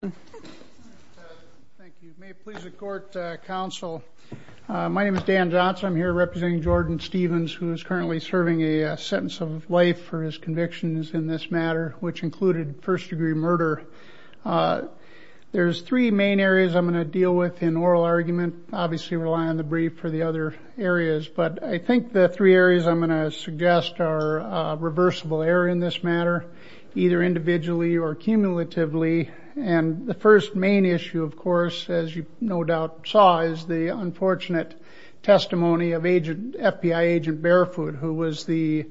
Thank you. May it please the court, counsel. My name is Dan Johnson. I'm here representing Jordan Stevens, who is currently serving a sentence of life for his convictions in this matter, which included first-degree murder. There's three main areas I'm going to deal with in oral argument. Obviously rely on the brief for the other areas, but I think the three areas I'm going to suggest are reversible error in this matter, either individually or cumulatively. And the first main issue, of course, as you no doubt saw, is the unfortunate testimony of agent, FBI agent Barefoot, who was the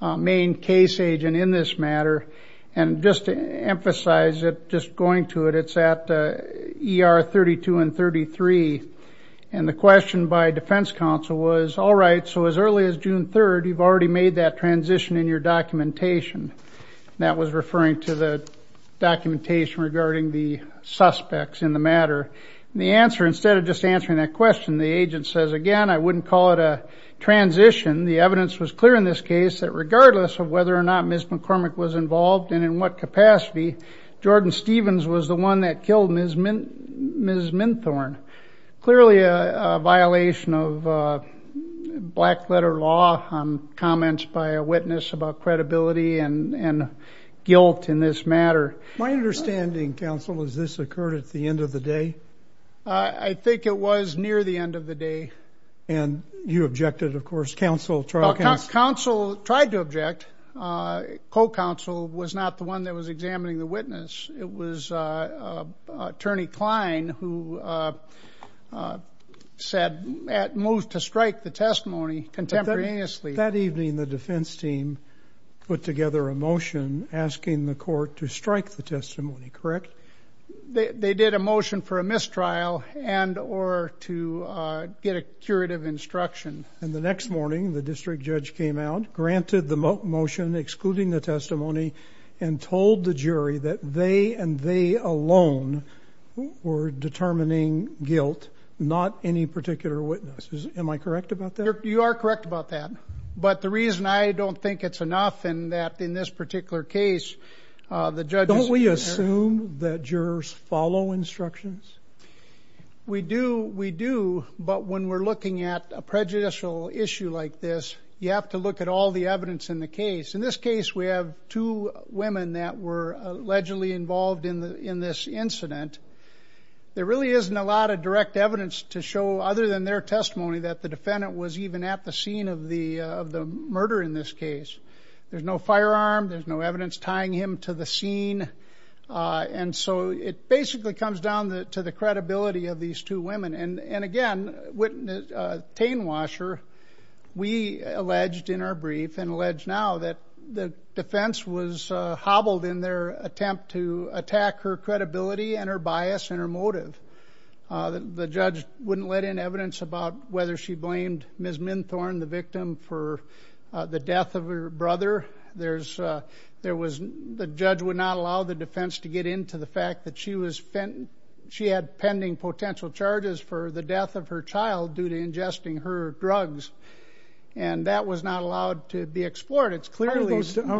main case agent in this matter. And just to emphasize it, just going to it, it's at ER 32 and 33. And the question by Defense Counsel was, all right, so as early as June 3rd, you've already made that transition in your documentation. That was referring to the documentation regarding the suspects in the matter. The answer, instead of just answering that question, the agent says, again, I wouldn't call it a transition. The evidence was clear in this case that regardless of whether or not Ms. McCormick was involved and in what capacity, Jordan Stevens was the one that killed Ms. Minthorn. Clearly a violation of black letter law on comments by a witness about credibility and guilt in this matter. My understanding, Counsel, is this occurred at the end of the day? I think it was near the end of the day. And you objected, of course, Counsel, trial counsel? Counsel tried to object. Co-counsel was not the one that was examining the witness. It was Attorney Klein who said, moved to strike the testimony contemporaneously. That evening, the defense team put together a motion asking the court to strike the testimony, correct? They did a motion for a mistrial and or to get a curative instruction. And the next morning, the district judge came out, granted the motion excluding the testimony, and told the jury that they and they alone were determining guilt, not any particular witnesses. Am I correct about that? You are correct about that. But the reason I don't think it's enough in that, in this particular case, the judge... Don't we assume that jurors follow instructions? We do. We do. But when we're looking at a prejudicial issue like this, you have to look at all the evidence in the case. In this case, we have two women that were allegedly involved in this incident. There really isn't a lot of direct evidence to show, other than their testimony, that the defendant was even at the scene of the murder in this case. There's no firearm. There's no evidence tying him to the scene. And so it basically comes down to the credibility of these two women. And again, Tane Washer, we alleged in our brief, and allege now, that the defense was hobbled in their attempt to attack her credibility and her bias and her motive. The judge wouldn't let in evidence about whether she blamed Ms. Minthorn, the victim, for the death of her brother. The judge would not allow the defense to get into the fact that she had pending potential charges for the death of her child due to ingesting her drugs. And that was not allowed to be explored. How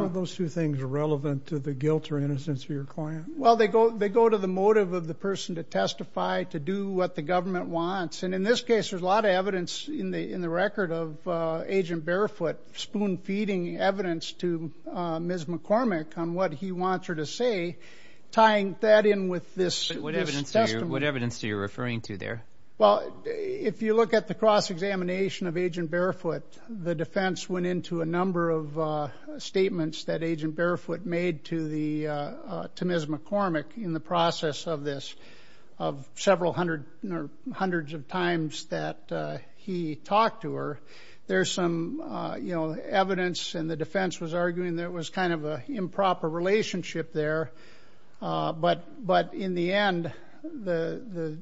are those two things relevant to the guilt or innocence of your client? Well, they go to the motive of the person to testify, to do what the government wants. And in this case, there's a lot of evidence in the record of Agent Barefoot spoon-feeding evidence to Ms. McCormick on what he wants her to say, tying that in with this testimony. What evidence are you referring to there? Well, if you look at the cross-examination of Agent Barefoot, the defense went into a number of statements that Agent Barefoot made to Ms. McCormick in the process of this, of several hundred or hundreds of times that he talked to her. There's some evidence, and the defense was arguing that it was kind of an improper relationship there. But in the end, the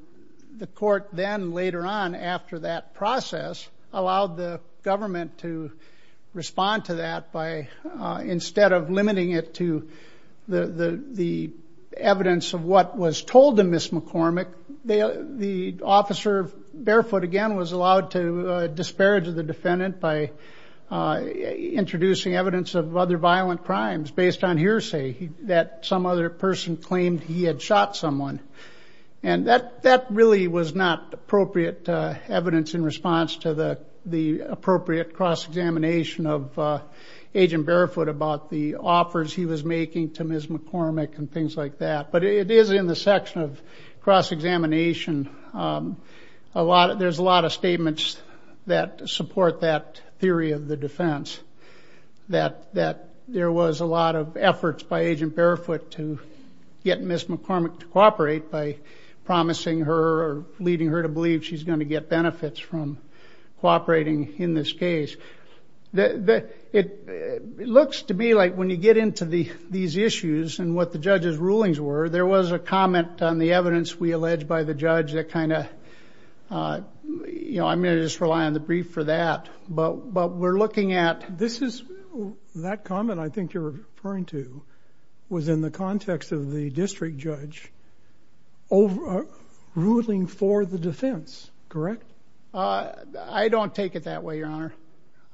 court then, later on after that process, allowed the government to respond to that by, instead of limiting it to the evidence of what was told to Ms. McCormick, the officer, Barefoot again, was allowed to disparage the defendant by introducing evidence of other violent crimes based on hearsay that some other person claimed he had shot someone. And that really was not appropriate evidence in response to the appropriate cross-examination of Agent Barefoot about the offers he was making to Ms. McCormick and things like that. But it is in the section of cross-examination, there's a lot of statements that support that defense, that there was a lot of efforts by Agent Barefoot to get Ms. McCormick to cooperate by promising her or leading her to believe she's going to get benefits from cooperating in this case. It looks to me like when you get into these issues and what the judge's rulings were, there was a comment on the evidence we allege by the judge that kind of, I'm going to just rely on the brief for that. But we're looking at... This is, that comment I think you're referring to, was in the context of the district judge ruling for the defense, correct? I don't take it that way, Your Honor.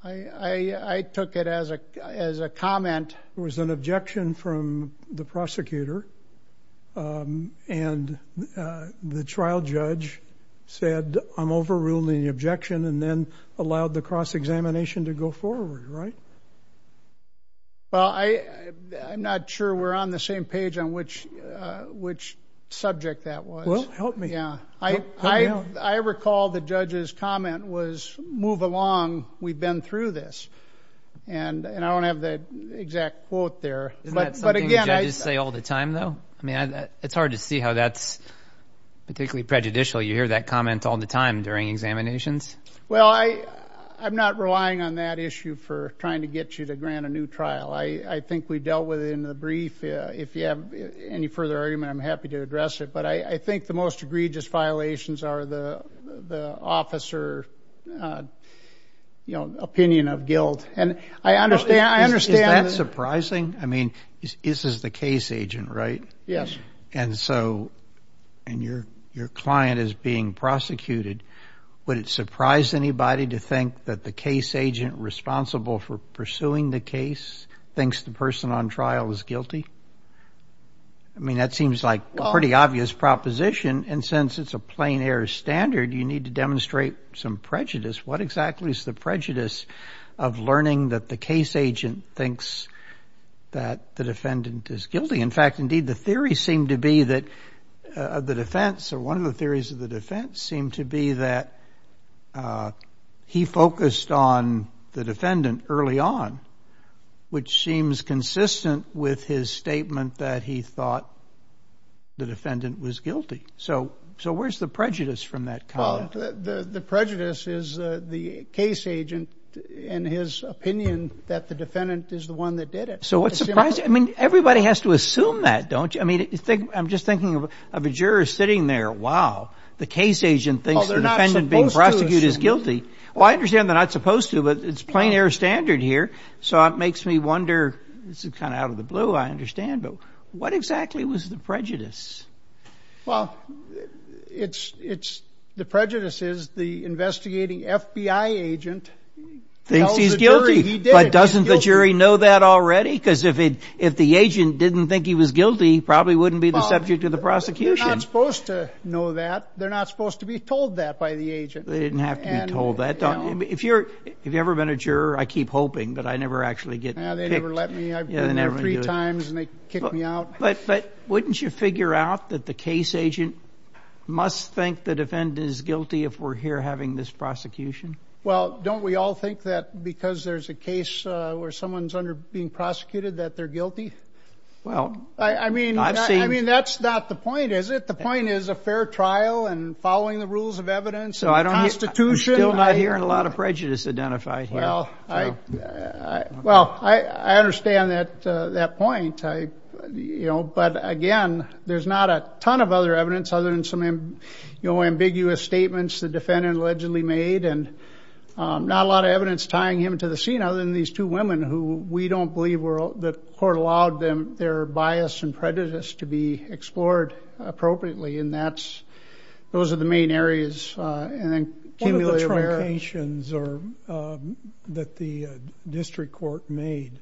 I took it as a comment. There was an objection from the prosecutor and the trial judge said, I'm overruling the cross-examination to go forward, right? Well, I'm not sure we're on the same page on which subject that was. Well, help me. I recall the judge's comment was, move along, we've been through this. And I don't have the exact quote there, but again, I... Isn't that something the judges say all the time though? It's hard to see how that's particularly prejudicial. You hear that comment all the time during examinations. Well, I'm not relying on that issue for trying to get you to grant a new trial. I think we dealt with it in the brief. If you have any further argument, I'm happy to address it. But I think the most egregious violations are the officer opinion of guilt. And I understand... Is that surprising? I mean, this is the case agent, right? Yes. And so, and your client is being prosecuted, would it surprise anybody to think that the case agent responsible for pursuing the case thinks the person on trial is guilty? I mean, that seems like a pretty obvious proposition. And since it's a plain air standard, you need to demonstrate some prejudice. What exactly is the prejudice of learning that the case agent thinks that the defendant is guilty? In fact, indeed, the theory seemed to be that the defense, or one of the theories of the defense seemed to be that he focused on the defendant early on, which seems consistent with his statement that he thought the defendant was guilty. So where's the prejudice from that comment? The prejudice is the case agent and his opinion that the defendant is the one that did it. So what's surprising? I mean, everybody has to assume that, don't you? I'm just thinking of a juror sitting there, wow, the case agent thinks the defendant being prosecuted is guilty. Well, I understand they're not supposed to, but it's plain air standard here. So it makes me wonder, this is kind of out of the blue, I understand, but what exactly was the prejudice? Well, the prejudice is the investigating FBI agent tells the jury he did it. But doesn't the jury know that already? Because if the agent didn't think he was guilty, he probably wouldn't be the subject of the prosecution. They're not supposed to know that. They're not supposed to be told that by the agent. They didn't have to be told that. If you've ever been a juror, I keep hoping, but I never actually get picked. Yeah, they never let me. I've been there three times and they kick me out. But wouldn't you figure out that the case agent must think the defendant is guilty if we're here having this prosecution? Well, don't we all think that because there's a case where someone's being prosecuted that they're guilty? Well, I've seen... I mean, that's not the point, is it? The point is a fair trial and following the rules of evidence and the Constitution. I'm still not hearing a lot of prejudice identified here. Well, I understand that point, but again, there's not a ton of other evidence other than some, you know, ambiguous statements the defendant allegedly made and not a lot of evidence tying him to the scene other than these two women who we don't believe were... the court allowed their bias and prejudice to be explored appropriately. And that's... those are the main areas. One of the truncations that the district court made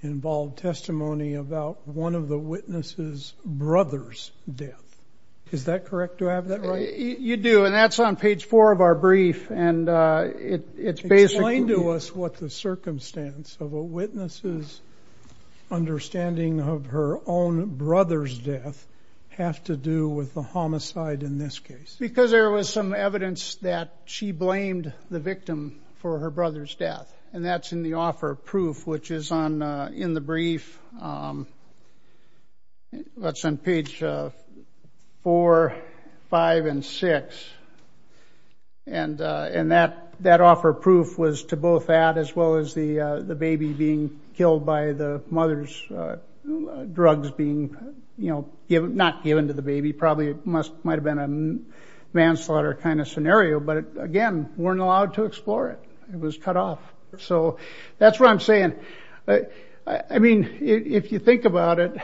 involved testimony about one of the witnesses' brother's death. Is that correct? Do I have that right? You do. And that's on page four of our brief. And it's basically... Explain to us what the circumstance of a witness' understanding of her own brother's death have to do with the homicide in this case. Because there was some evidence that she blamed the victim for her brother's death. And that's in the offer of proof, which is on... in the brief. That's on page four, five, and six. And that offer of proof was to both that as well as the baby being killed by the mother's drugs being, you know, not given to the baby. Probably might have been a manslaughter kind of scenario. But again, weren't allowed to explore it. It was cut off. So that's what I'm saying. I mean, if you think about it,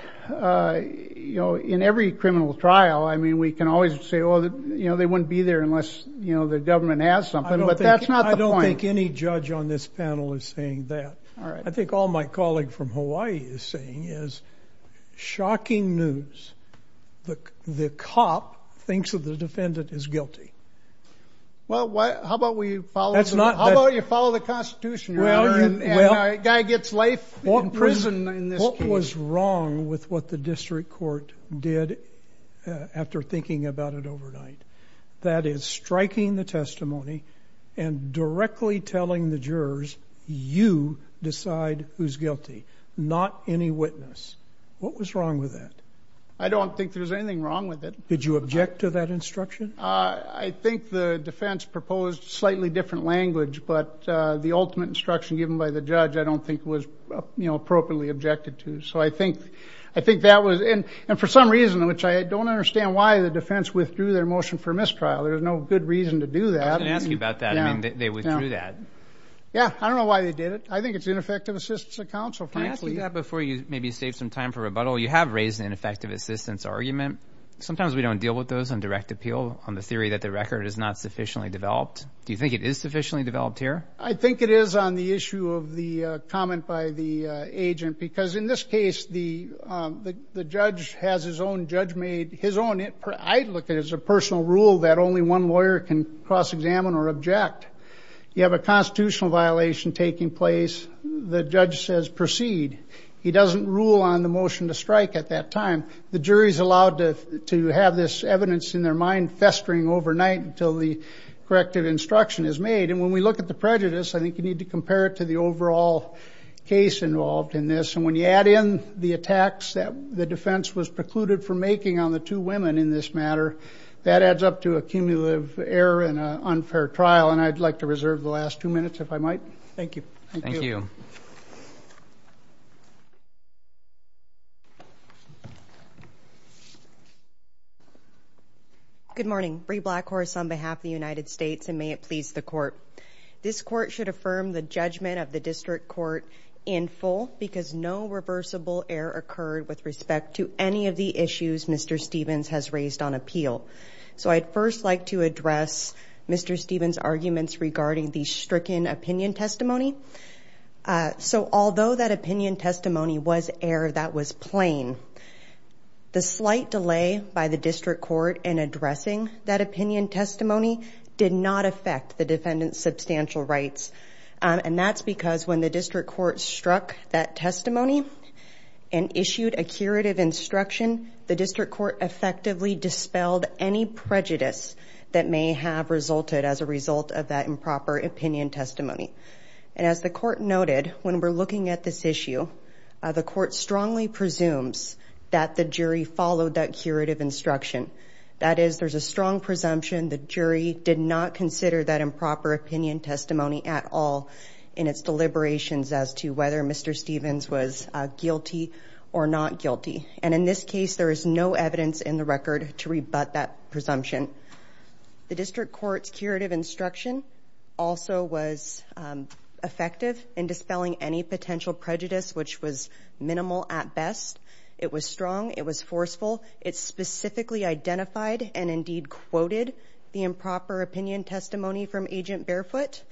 you know, in every criminal trial, I mean, we can always say, oh, you know, they wouldn't be there unless, you know, the government has something. But that's not the point. I don't think any judge on this panel is saying that. All right. I think all my colleague from Hawaii is saying is shocking news. The cop thinks that the defendant is guilty. Well, how about we follow... That's not... Well, what was wrong with what the district court did after thinking about it overnight? That is striking the testimony and directly telling the jurors, you decide who's guilty, not any witness. What was wrong with that? I don't think there's anything wrong with it. Did you object to that instruction? I think the defense proposed slightly different language. But the ultimate instruction given by the judge, I don't think was appropriately objected to. So I think that was... And for some reason, which I don't understand why the defense withdrew their motion for mistrial. There's no good reason to do that. I didn't ask you about that. I mean, they withdrew that. Yeah. I don't know why they did it. I think it's ineffective assistance of counsel, frankly. Can I ask you that before you maybe save some time for rebuttal? You have raised an ineffective assistance argument. Sometimes we don't deal with those on direct appeal on the theory that the record is not sufficiently developed. I think it is on the issue of the comment by the agent. Because in this case, the judge has his own judgment. I look at it as a personal rule that only one lawyer can cross-examine or object. You have a constitutional violation taking place. The judge says proceed. He doesn't rule on the motion to strike at that time. The jury is allowed to have this evidence in their mind festering overnight until the corrective instruction is made. And when we look at the prejudice, I think you need to compare it to the overall case involved in this. And when you add in the attacks that the defense was precluded from making on the two women in this matter, that adds up to a cumulative error and an unfair trial. And I'd like to reserve the last two minutes if I might. Thank you. Thank you. Good morning. Brie Blackhorse on behalf of the United States. And may it please the court. This court should affirm the judgment of the district court in full because no reversible error occurred with respect to any of the issues Mr. Stevens has raised on appeal. So I'd first like to address Mr. Stevens' arguments regarding the stricken opinion testimony. So although that opinion testimony was error that was plain, the slight delay by the district court in addressing that opinion testimony did not affect the defendant's substantial rights. And that's because when the district court struck that testimony and issued a curative instruction, the district court effectively dispelled any prejudice that may have resulted as a result of that improper opinion testimony. And as the court noted, when we're looking at this issue, the court strongly presumes that the jury followed that curative instruction. That is, there's a strong presumption the jury did not consider that improper opinion testimony at all in its deliberations as to whether Mr. Stevens was guilty or not guilty. And in this case, there is no evidence in the record to rebut that presumption. The district court's curative instruction also was effective in dispelling any potential prejudice, which was minimal at best. It was strong. It was forceful. It specifically identified and indeed quoted the improper opinion testimony from Agent Barefoot,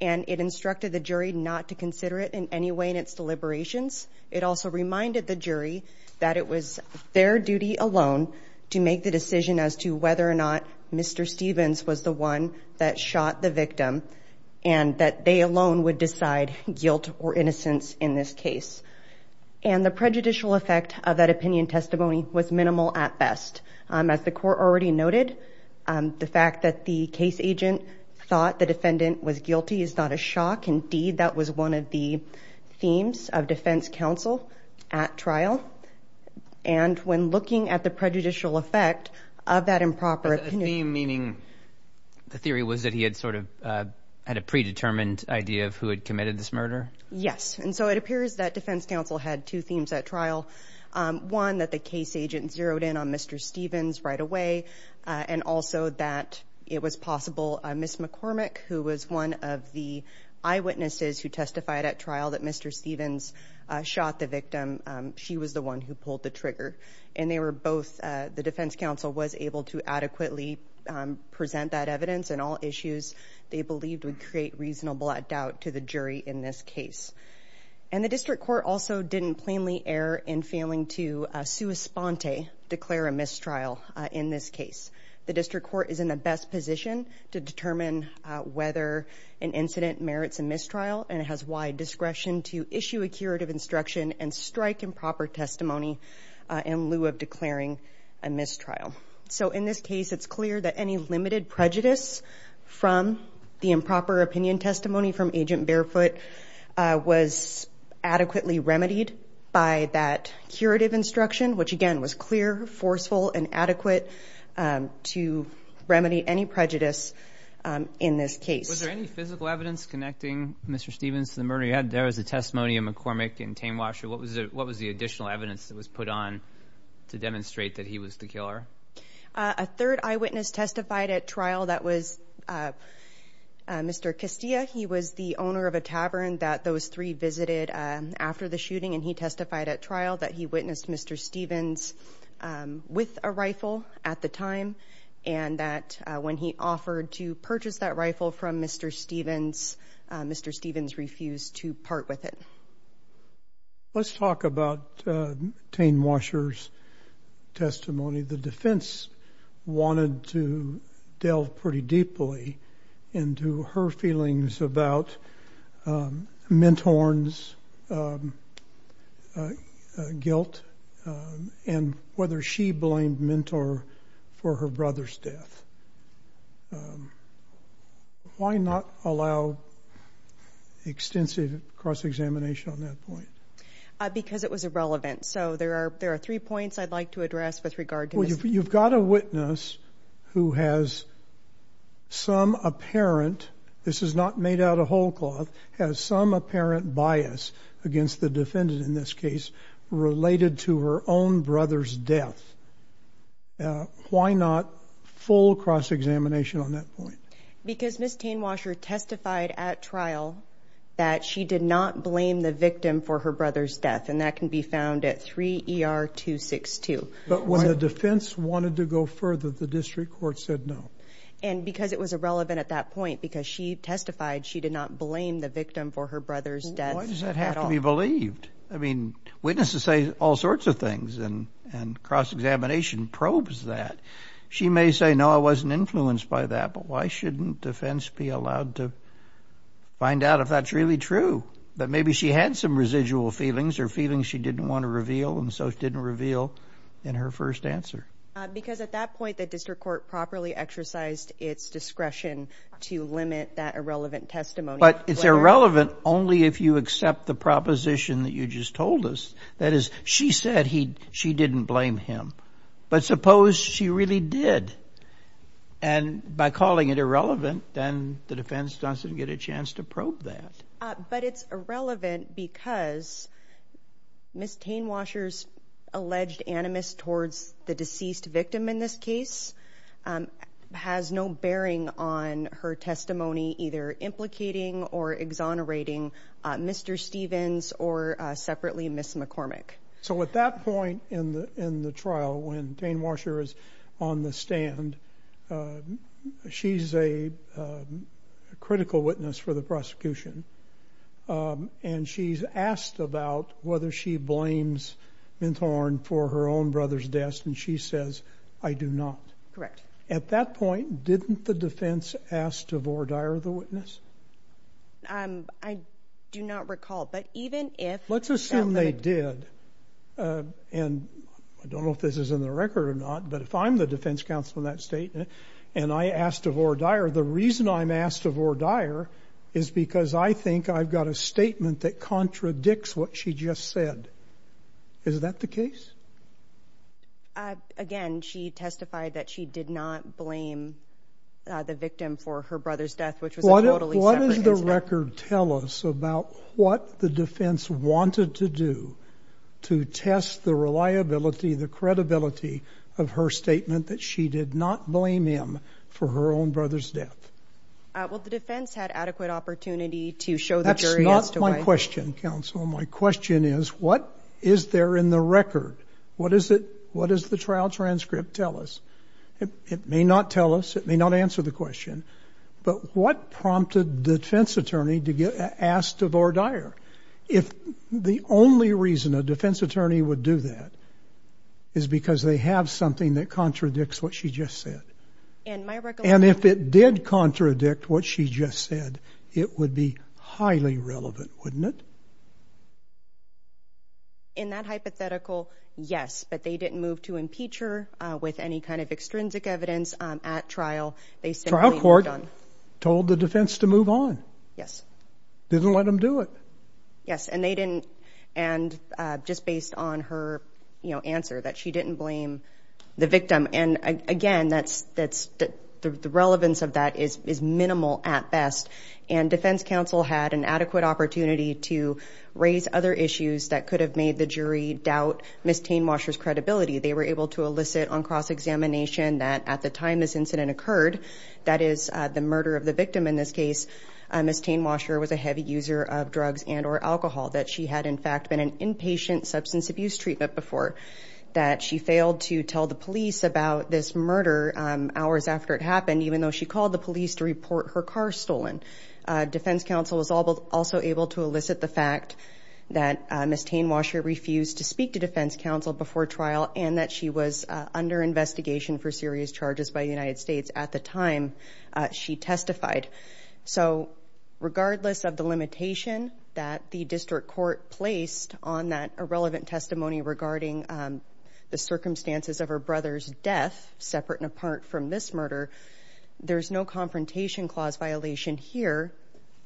and it instructed the jury not to consider it in any way in its deliberations. It also reminded the jury that it was their duty alone to make the decision as to whether or not Mr. Stevens was the one that shot the victim, and that they alone would decide guilt or innocence in this case. And the prejudicial effect of that opinion testimony was minimal at best. As the court already noted, the fact that the case agent thought the defendant was guilty is not a shock. Indeed, that was one of the themes of defense counsel at trial. And when looking at the prejudicial effect of that improper opinion testimony... Yes. And so it appears that defense counsel had two themes at trial. One, that the case agent zeroed in on Mr. Stevens right away, and also that it was possible Ms. McCormick, who was one of the eyewitnesses who testified at trial that Mr. Stevens shot the victim, she was the one who pulled the trigger. And they were both... The defense counsel was able to adequately present that evidence and all issues they believed would create reasonable doubt to the jury in this case. And the district court also didn't plainly err in failing to sua sponte, declare a mistrial in this case. The district court is in the best position to determine whether an incident merits a mistrial, and it has wide discretion to issue a curative instruction and strike improper testimony in lieu of declaring a mistrial. So in this case, it's clear that any limited prejudice from the improper opinion testimony from Agent Barefoot was adequately remedied by that curative instruction, which again was clear, forceful, and adequate to remedy any prejudice in this case. Was there any physical evidence connecting Mr. Stevens to the murder? There was a testimony of McCormick and Tamewasher. What was the additional evidence that was put on to demonstrate that he was the killer? A third eyewitness testified at trial that was Mr. Castillo. He was the owner of a tavern that those three visited after the shooting, and he testified at trial that he witnessed Mr. Stevens with a rifle at the time, and that when he offered to purchase that rifle from Mr. Stevens, Mr. Stevens refused to part with it. Let's talk about Tamewasher's testimony. The defense wanted to delve pretty deeply into her feelings about Minthorn's guilt and whether she blamed Minthorn for her brother's death. Why not allow extensive cross-examination on that point? Because it was irrelevant. So there are three points I'd like to address with regard to this. Well, you've got a witness who has some apparent, this is not made out of whole cloth, has some apparent bias against the defendant in this case related to her own brother's death. Why not full cross-examination on that point? Because Ms. Tamewasher testified at trial that she did not blame the victim for her brother's death, and that can be found at 3 ER 262. But when the defense wanted to go further, the district court said no. And because it was irrelevant at that point, because she testified she did not blame the victim for her brother's death at all. Why does that have to be believed? I mean, witnesses say all sorts of things, and cross-examination probes that. She may say, no, I wasn't influenced by that, but why shouldn't defense be allowed to find out if that's really true? That maybe she had some residual feelings or feelings she didn't want to reveal, and so she didn't reveal in her first answer. Because at that point, the district court properly exercised its discretion to limit that irrelevant testimony. But it's irrelevant only if you accept the proposition that you just told us. That is, she said she didn't blame him. But suppose she really did, and by calling it irrelevant, then the defense doesn't get a chance to probe that. But it's irrelevant because Ms. Tamewasher's alleged animus towards the deceased victim in this case has no bearing on her testimony either implicating or exonerating Mr. Stevens or, separately, Ms. McCormick. So at that point in the trial, when Tamewasher is on the stand, she's a critical witness for the prosecution, and she's asked about whether she blames Minthorn for her own brother's death, and she says, I do not. At that point, didn't the defense ask to voir dire the witness? I do not recall. Let's assume they did, and I don't know if this is in the record or not, but if I'm the defense counsel in that state, and I ask to voir dire, the reason I'm asked to voir dire is because I think I've got a statement that contradicts what she just said. Is that the case? Again, she testified that she did not blame the victim for her brother's death, which was a totally separate incident. What does the record tell us about what the defense wanted to do to test the reliability, the credibility of her statement that she did not blame him for her own brother's death? Well, the defense had adequate opportunity to show the jury as to why... That's not my question, counsel. Well, my question is, what is there in the record? What does the trial transcript tell us? It may not tell us, it may not answer the question, but what prompted the defense attorney to ask to voir dire? If the only reason a defense attorney would do that is because they have something that contradicts what she just said, and if it did contradict what she just said, it would be highly relevant, wouldn't it? In that hypothetical, yes, but they didn't move to impeach her with any kind of extrinsic evidence at trial. They simply moved on. The trial court told the defense to move on? Yes. Didn't let them do it? Yes, and they didn't, and just based on her answer, that she didn't blame the victim, and again, the relevance of that is minimal at best, and defense counsel had an adequate opportunity to raise other issues that could have made the jury doubt Ms. Tainwasher's credibility. They were able to elicit on cross-examination that at the time this incident occurred, that is, the murder of the victim in this case, Ms. Tainwasher was a heavy user of drugs and or alcohol, that she had, in fact, been an inpatient substance abuse treatment before, that she failed to tell the police about this murder hours after it happened, even though she called the police to report her car stolen. Defense counsel was also able to elicit the fact that Ms. Tainwasher refused to speak to defense counsel before trial, and that she was under investigation for serious charges by the United States at the time she testified. So, regardless of the limitation that the district court placed on that irrelevant testimony regarding the circumstances of her brother's death, separate and apart from this murder, there's no confrontation clause violation here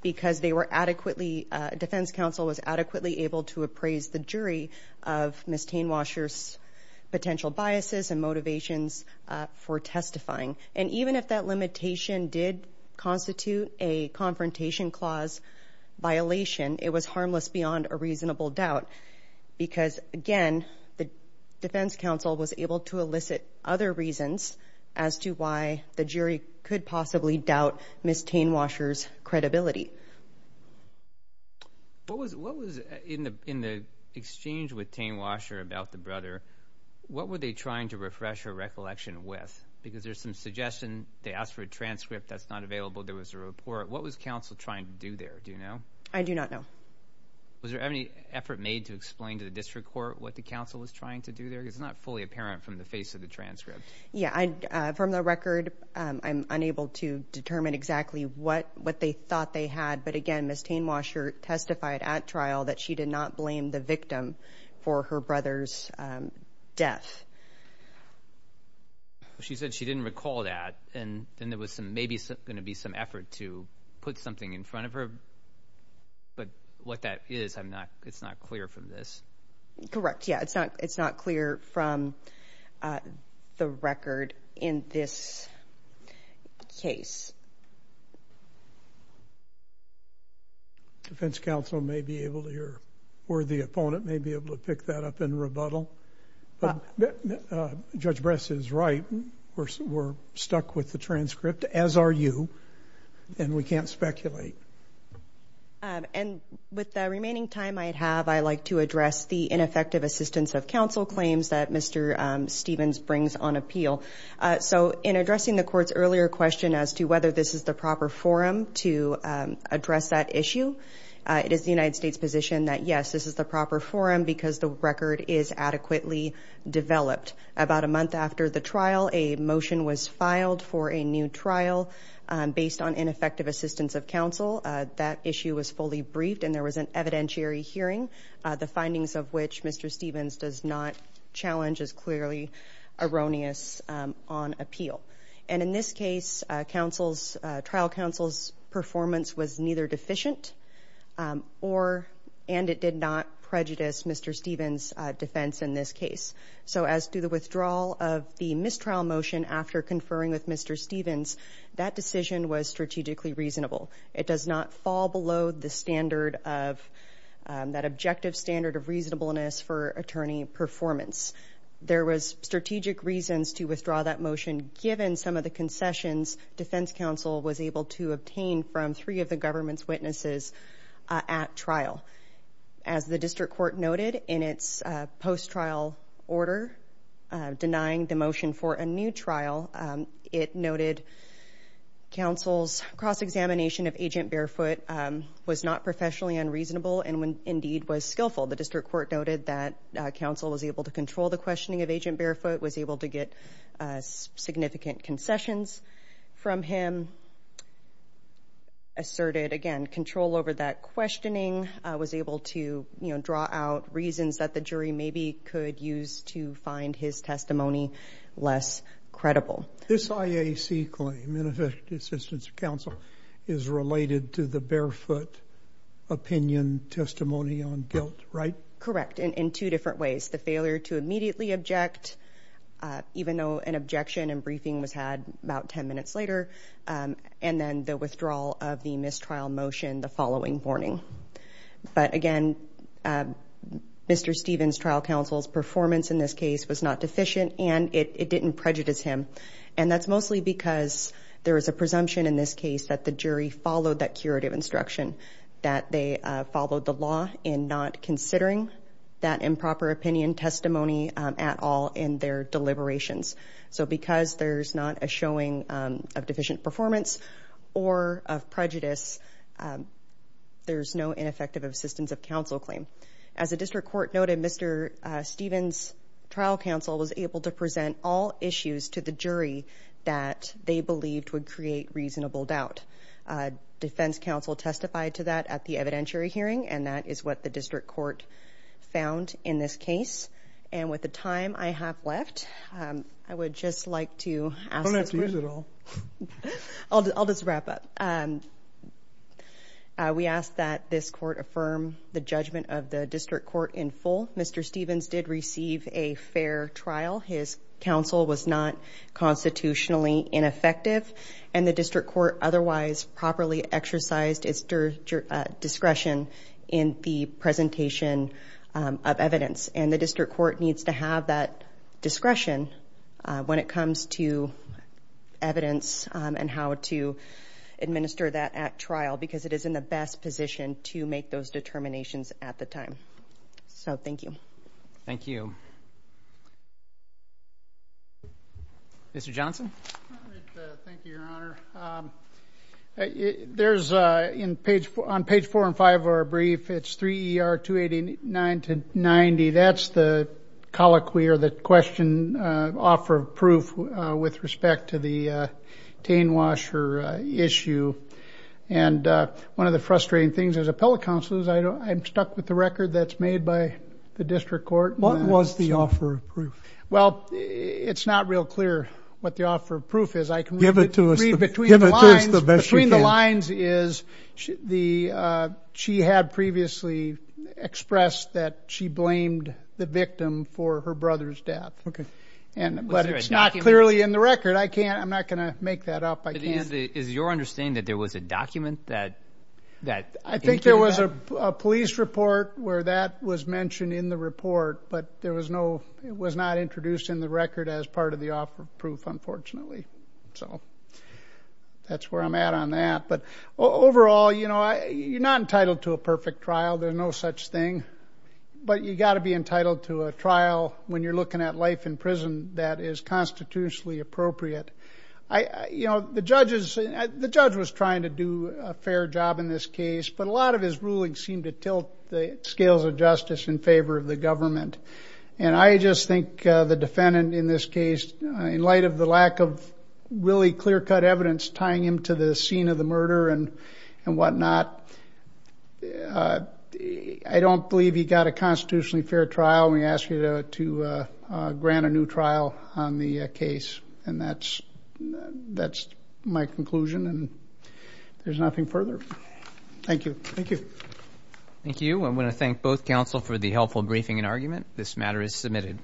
because they were adequately, defense counsel was adequately able to appraise the jury of Ms. Tainwasher's potential biases and motivations for testifying. And even if that limitation did constitute a confrontation clause violation, it was harmless beyond a reasonable doubt because, again, the defense counsel was able to elicit other reasons as to why the jury could possibly doubt Ms. Tainwasher's credibility. What was, in the exchange with Tainwasher about the brother, what were they trying to refresh her recollection with? Because there's some suggestion they asked for a transcript that's not available. There was a report. What was counsel trying to do there? Do you know? I do not know. Was there any effort made to explain to the district court what the counsel was trying to do there? Because it's not fully apparent from the face of the transcript. Yeah. From the record, I'm unable to determine exactly what they thought they had. But, again, Ms. Tainwasher testified at trial that she did not blame the victim for her brother's death. She said she didn't recall that. And then there was maybe going to be some effort to put something in front of her. But what that is, it's not clear from this. Correct. Yeah, it's not clear from the record in this case. Defense counsel may be able to, or the opponent may be able to pick that up in rebuttal. Judge Bress is right. We're stuck with the transcript, as are you. And we can't speculate. And with the remaining time I have, I'd like to address the ineffective assistance of counsel claims that Mr. Stevens brings on appeal. So in addressing the court's earlier question as to whether this is the proper forum to address that issue, it is the United States' position that, yes, this is the proper forum because the record is adequately developed. About a month after the trial, a motion was filed for a new trial based on ineffective assistance of counsel. That issue was fully briefed and there was an evidentiary hearing, the findings of which Mr. Stevens does not challenge as clearly erroneous on appeal. And in this case, trial counsel's performance was neither deficient and it did not prejudice Mr. Stevens' defense in this case. So as to the withdrawal of the mistrial motion after conferring with Mr. Stevens, that decision was strategically reasonable. It does not fall below that objective standard of reasonableness or any performance. There was strategic reasons to withdraw that motion given some of the concessions defense counsel was able to obtain from three of the government's witnesses at trial. As the district court noted in its post-trial order denying the motion for a new trial, it noted counsel's cross-examination of Agent Barefoot was not professionally unreasonable and indeed was skillful. Counsel was able to control the questioning of Agent Barefoot, was able to get significant concessions from him, asserted, again, control over that questioning, was able to draw out reasons that the jury maybe could use to find his testimony less credible. This IAC claim, Beneficiary Assistance Counsel, is related to the Barefoot opinion testimony on guilt, right? Correct, in two different ways. The failure to immediately object even though an objection and briefing was had about 10 minutes later and then the withdrawal of the mistrial motion the following morning. But again, Mr. Stevens' trial counsel's performance in this case was not deficient and it didn't prejudice him and that's mostly because there is a presumption in this case that the jury followed that curative instruction, that they followed the law in not considering that improper opinion testimony at all in their deliberations. So because there's not a showing of deficient performance or of prejudice, there's no ineffective assistance of counsel claim. As a district court noted, Mr. Stevens' trial counsel was able to present all issues to the jury that they believed would create reasonable doubt. Defense counsel testified to that at the evidentiary hearing and that is what the district court found in this case. And with the time I have left, I would just like to ask... Don't have to use it all. I'll just wrap up. We ask that this court affirm the judgment of the district court in full. Mr. Stevens did receive a fair trial. His counsel was not constitutionally ineffective and the district court otherwise properly exercised discretion in the presentation of evidence. And the district court needs to have that discretion when it comes to evidence and how to administer that at trial because it is in the best position to make those determinations at the time. So, thank you. Thank you. Mr. Johnson? Thank you, Your Honor. There's... On page 4 and 5 of our brief, it's 3 ER 289 to 90. That's the colloquy or the question offer of proof with respect to the Tane Washer issue. And one of the frustrating things as appellate counsel is I'm stuck with the record that's made by the district court. What was the offer of proof? Well, it's not real clear what the offer of proof is. Give it to us. Between the lines is she had previously expressed that she blamed the victim for her brother's death. Okay. But it's not clearly in the record. I'm not going to make that up. Is your understanding that there was a document that... I think there was a police report where that was mentioned in the report. But there was no... It was not introduced in the record as part of the offer of proof, So, that's where I'm at on that. But overall, you know, you're not entitled to a perfect trial. There's no such thing. But you've got to be fair. The judge was trying to do a fair job in this case. But a lot of his rulings seemed to tilt the scales of justice in favor of the government. And I just think the defendant in this case, in light of the lack of really clear-cut evidence tying him to the scene of the murder and whatnot, I don't believe he got a constitutionally fair trial to grant a new trial on the case. And that's my conclusion. And there's nothing further. Thank you. Thank you. I want to thank both counsel for the helpful briefing and argument. This matter is submitted.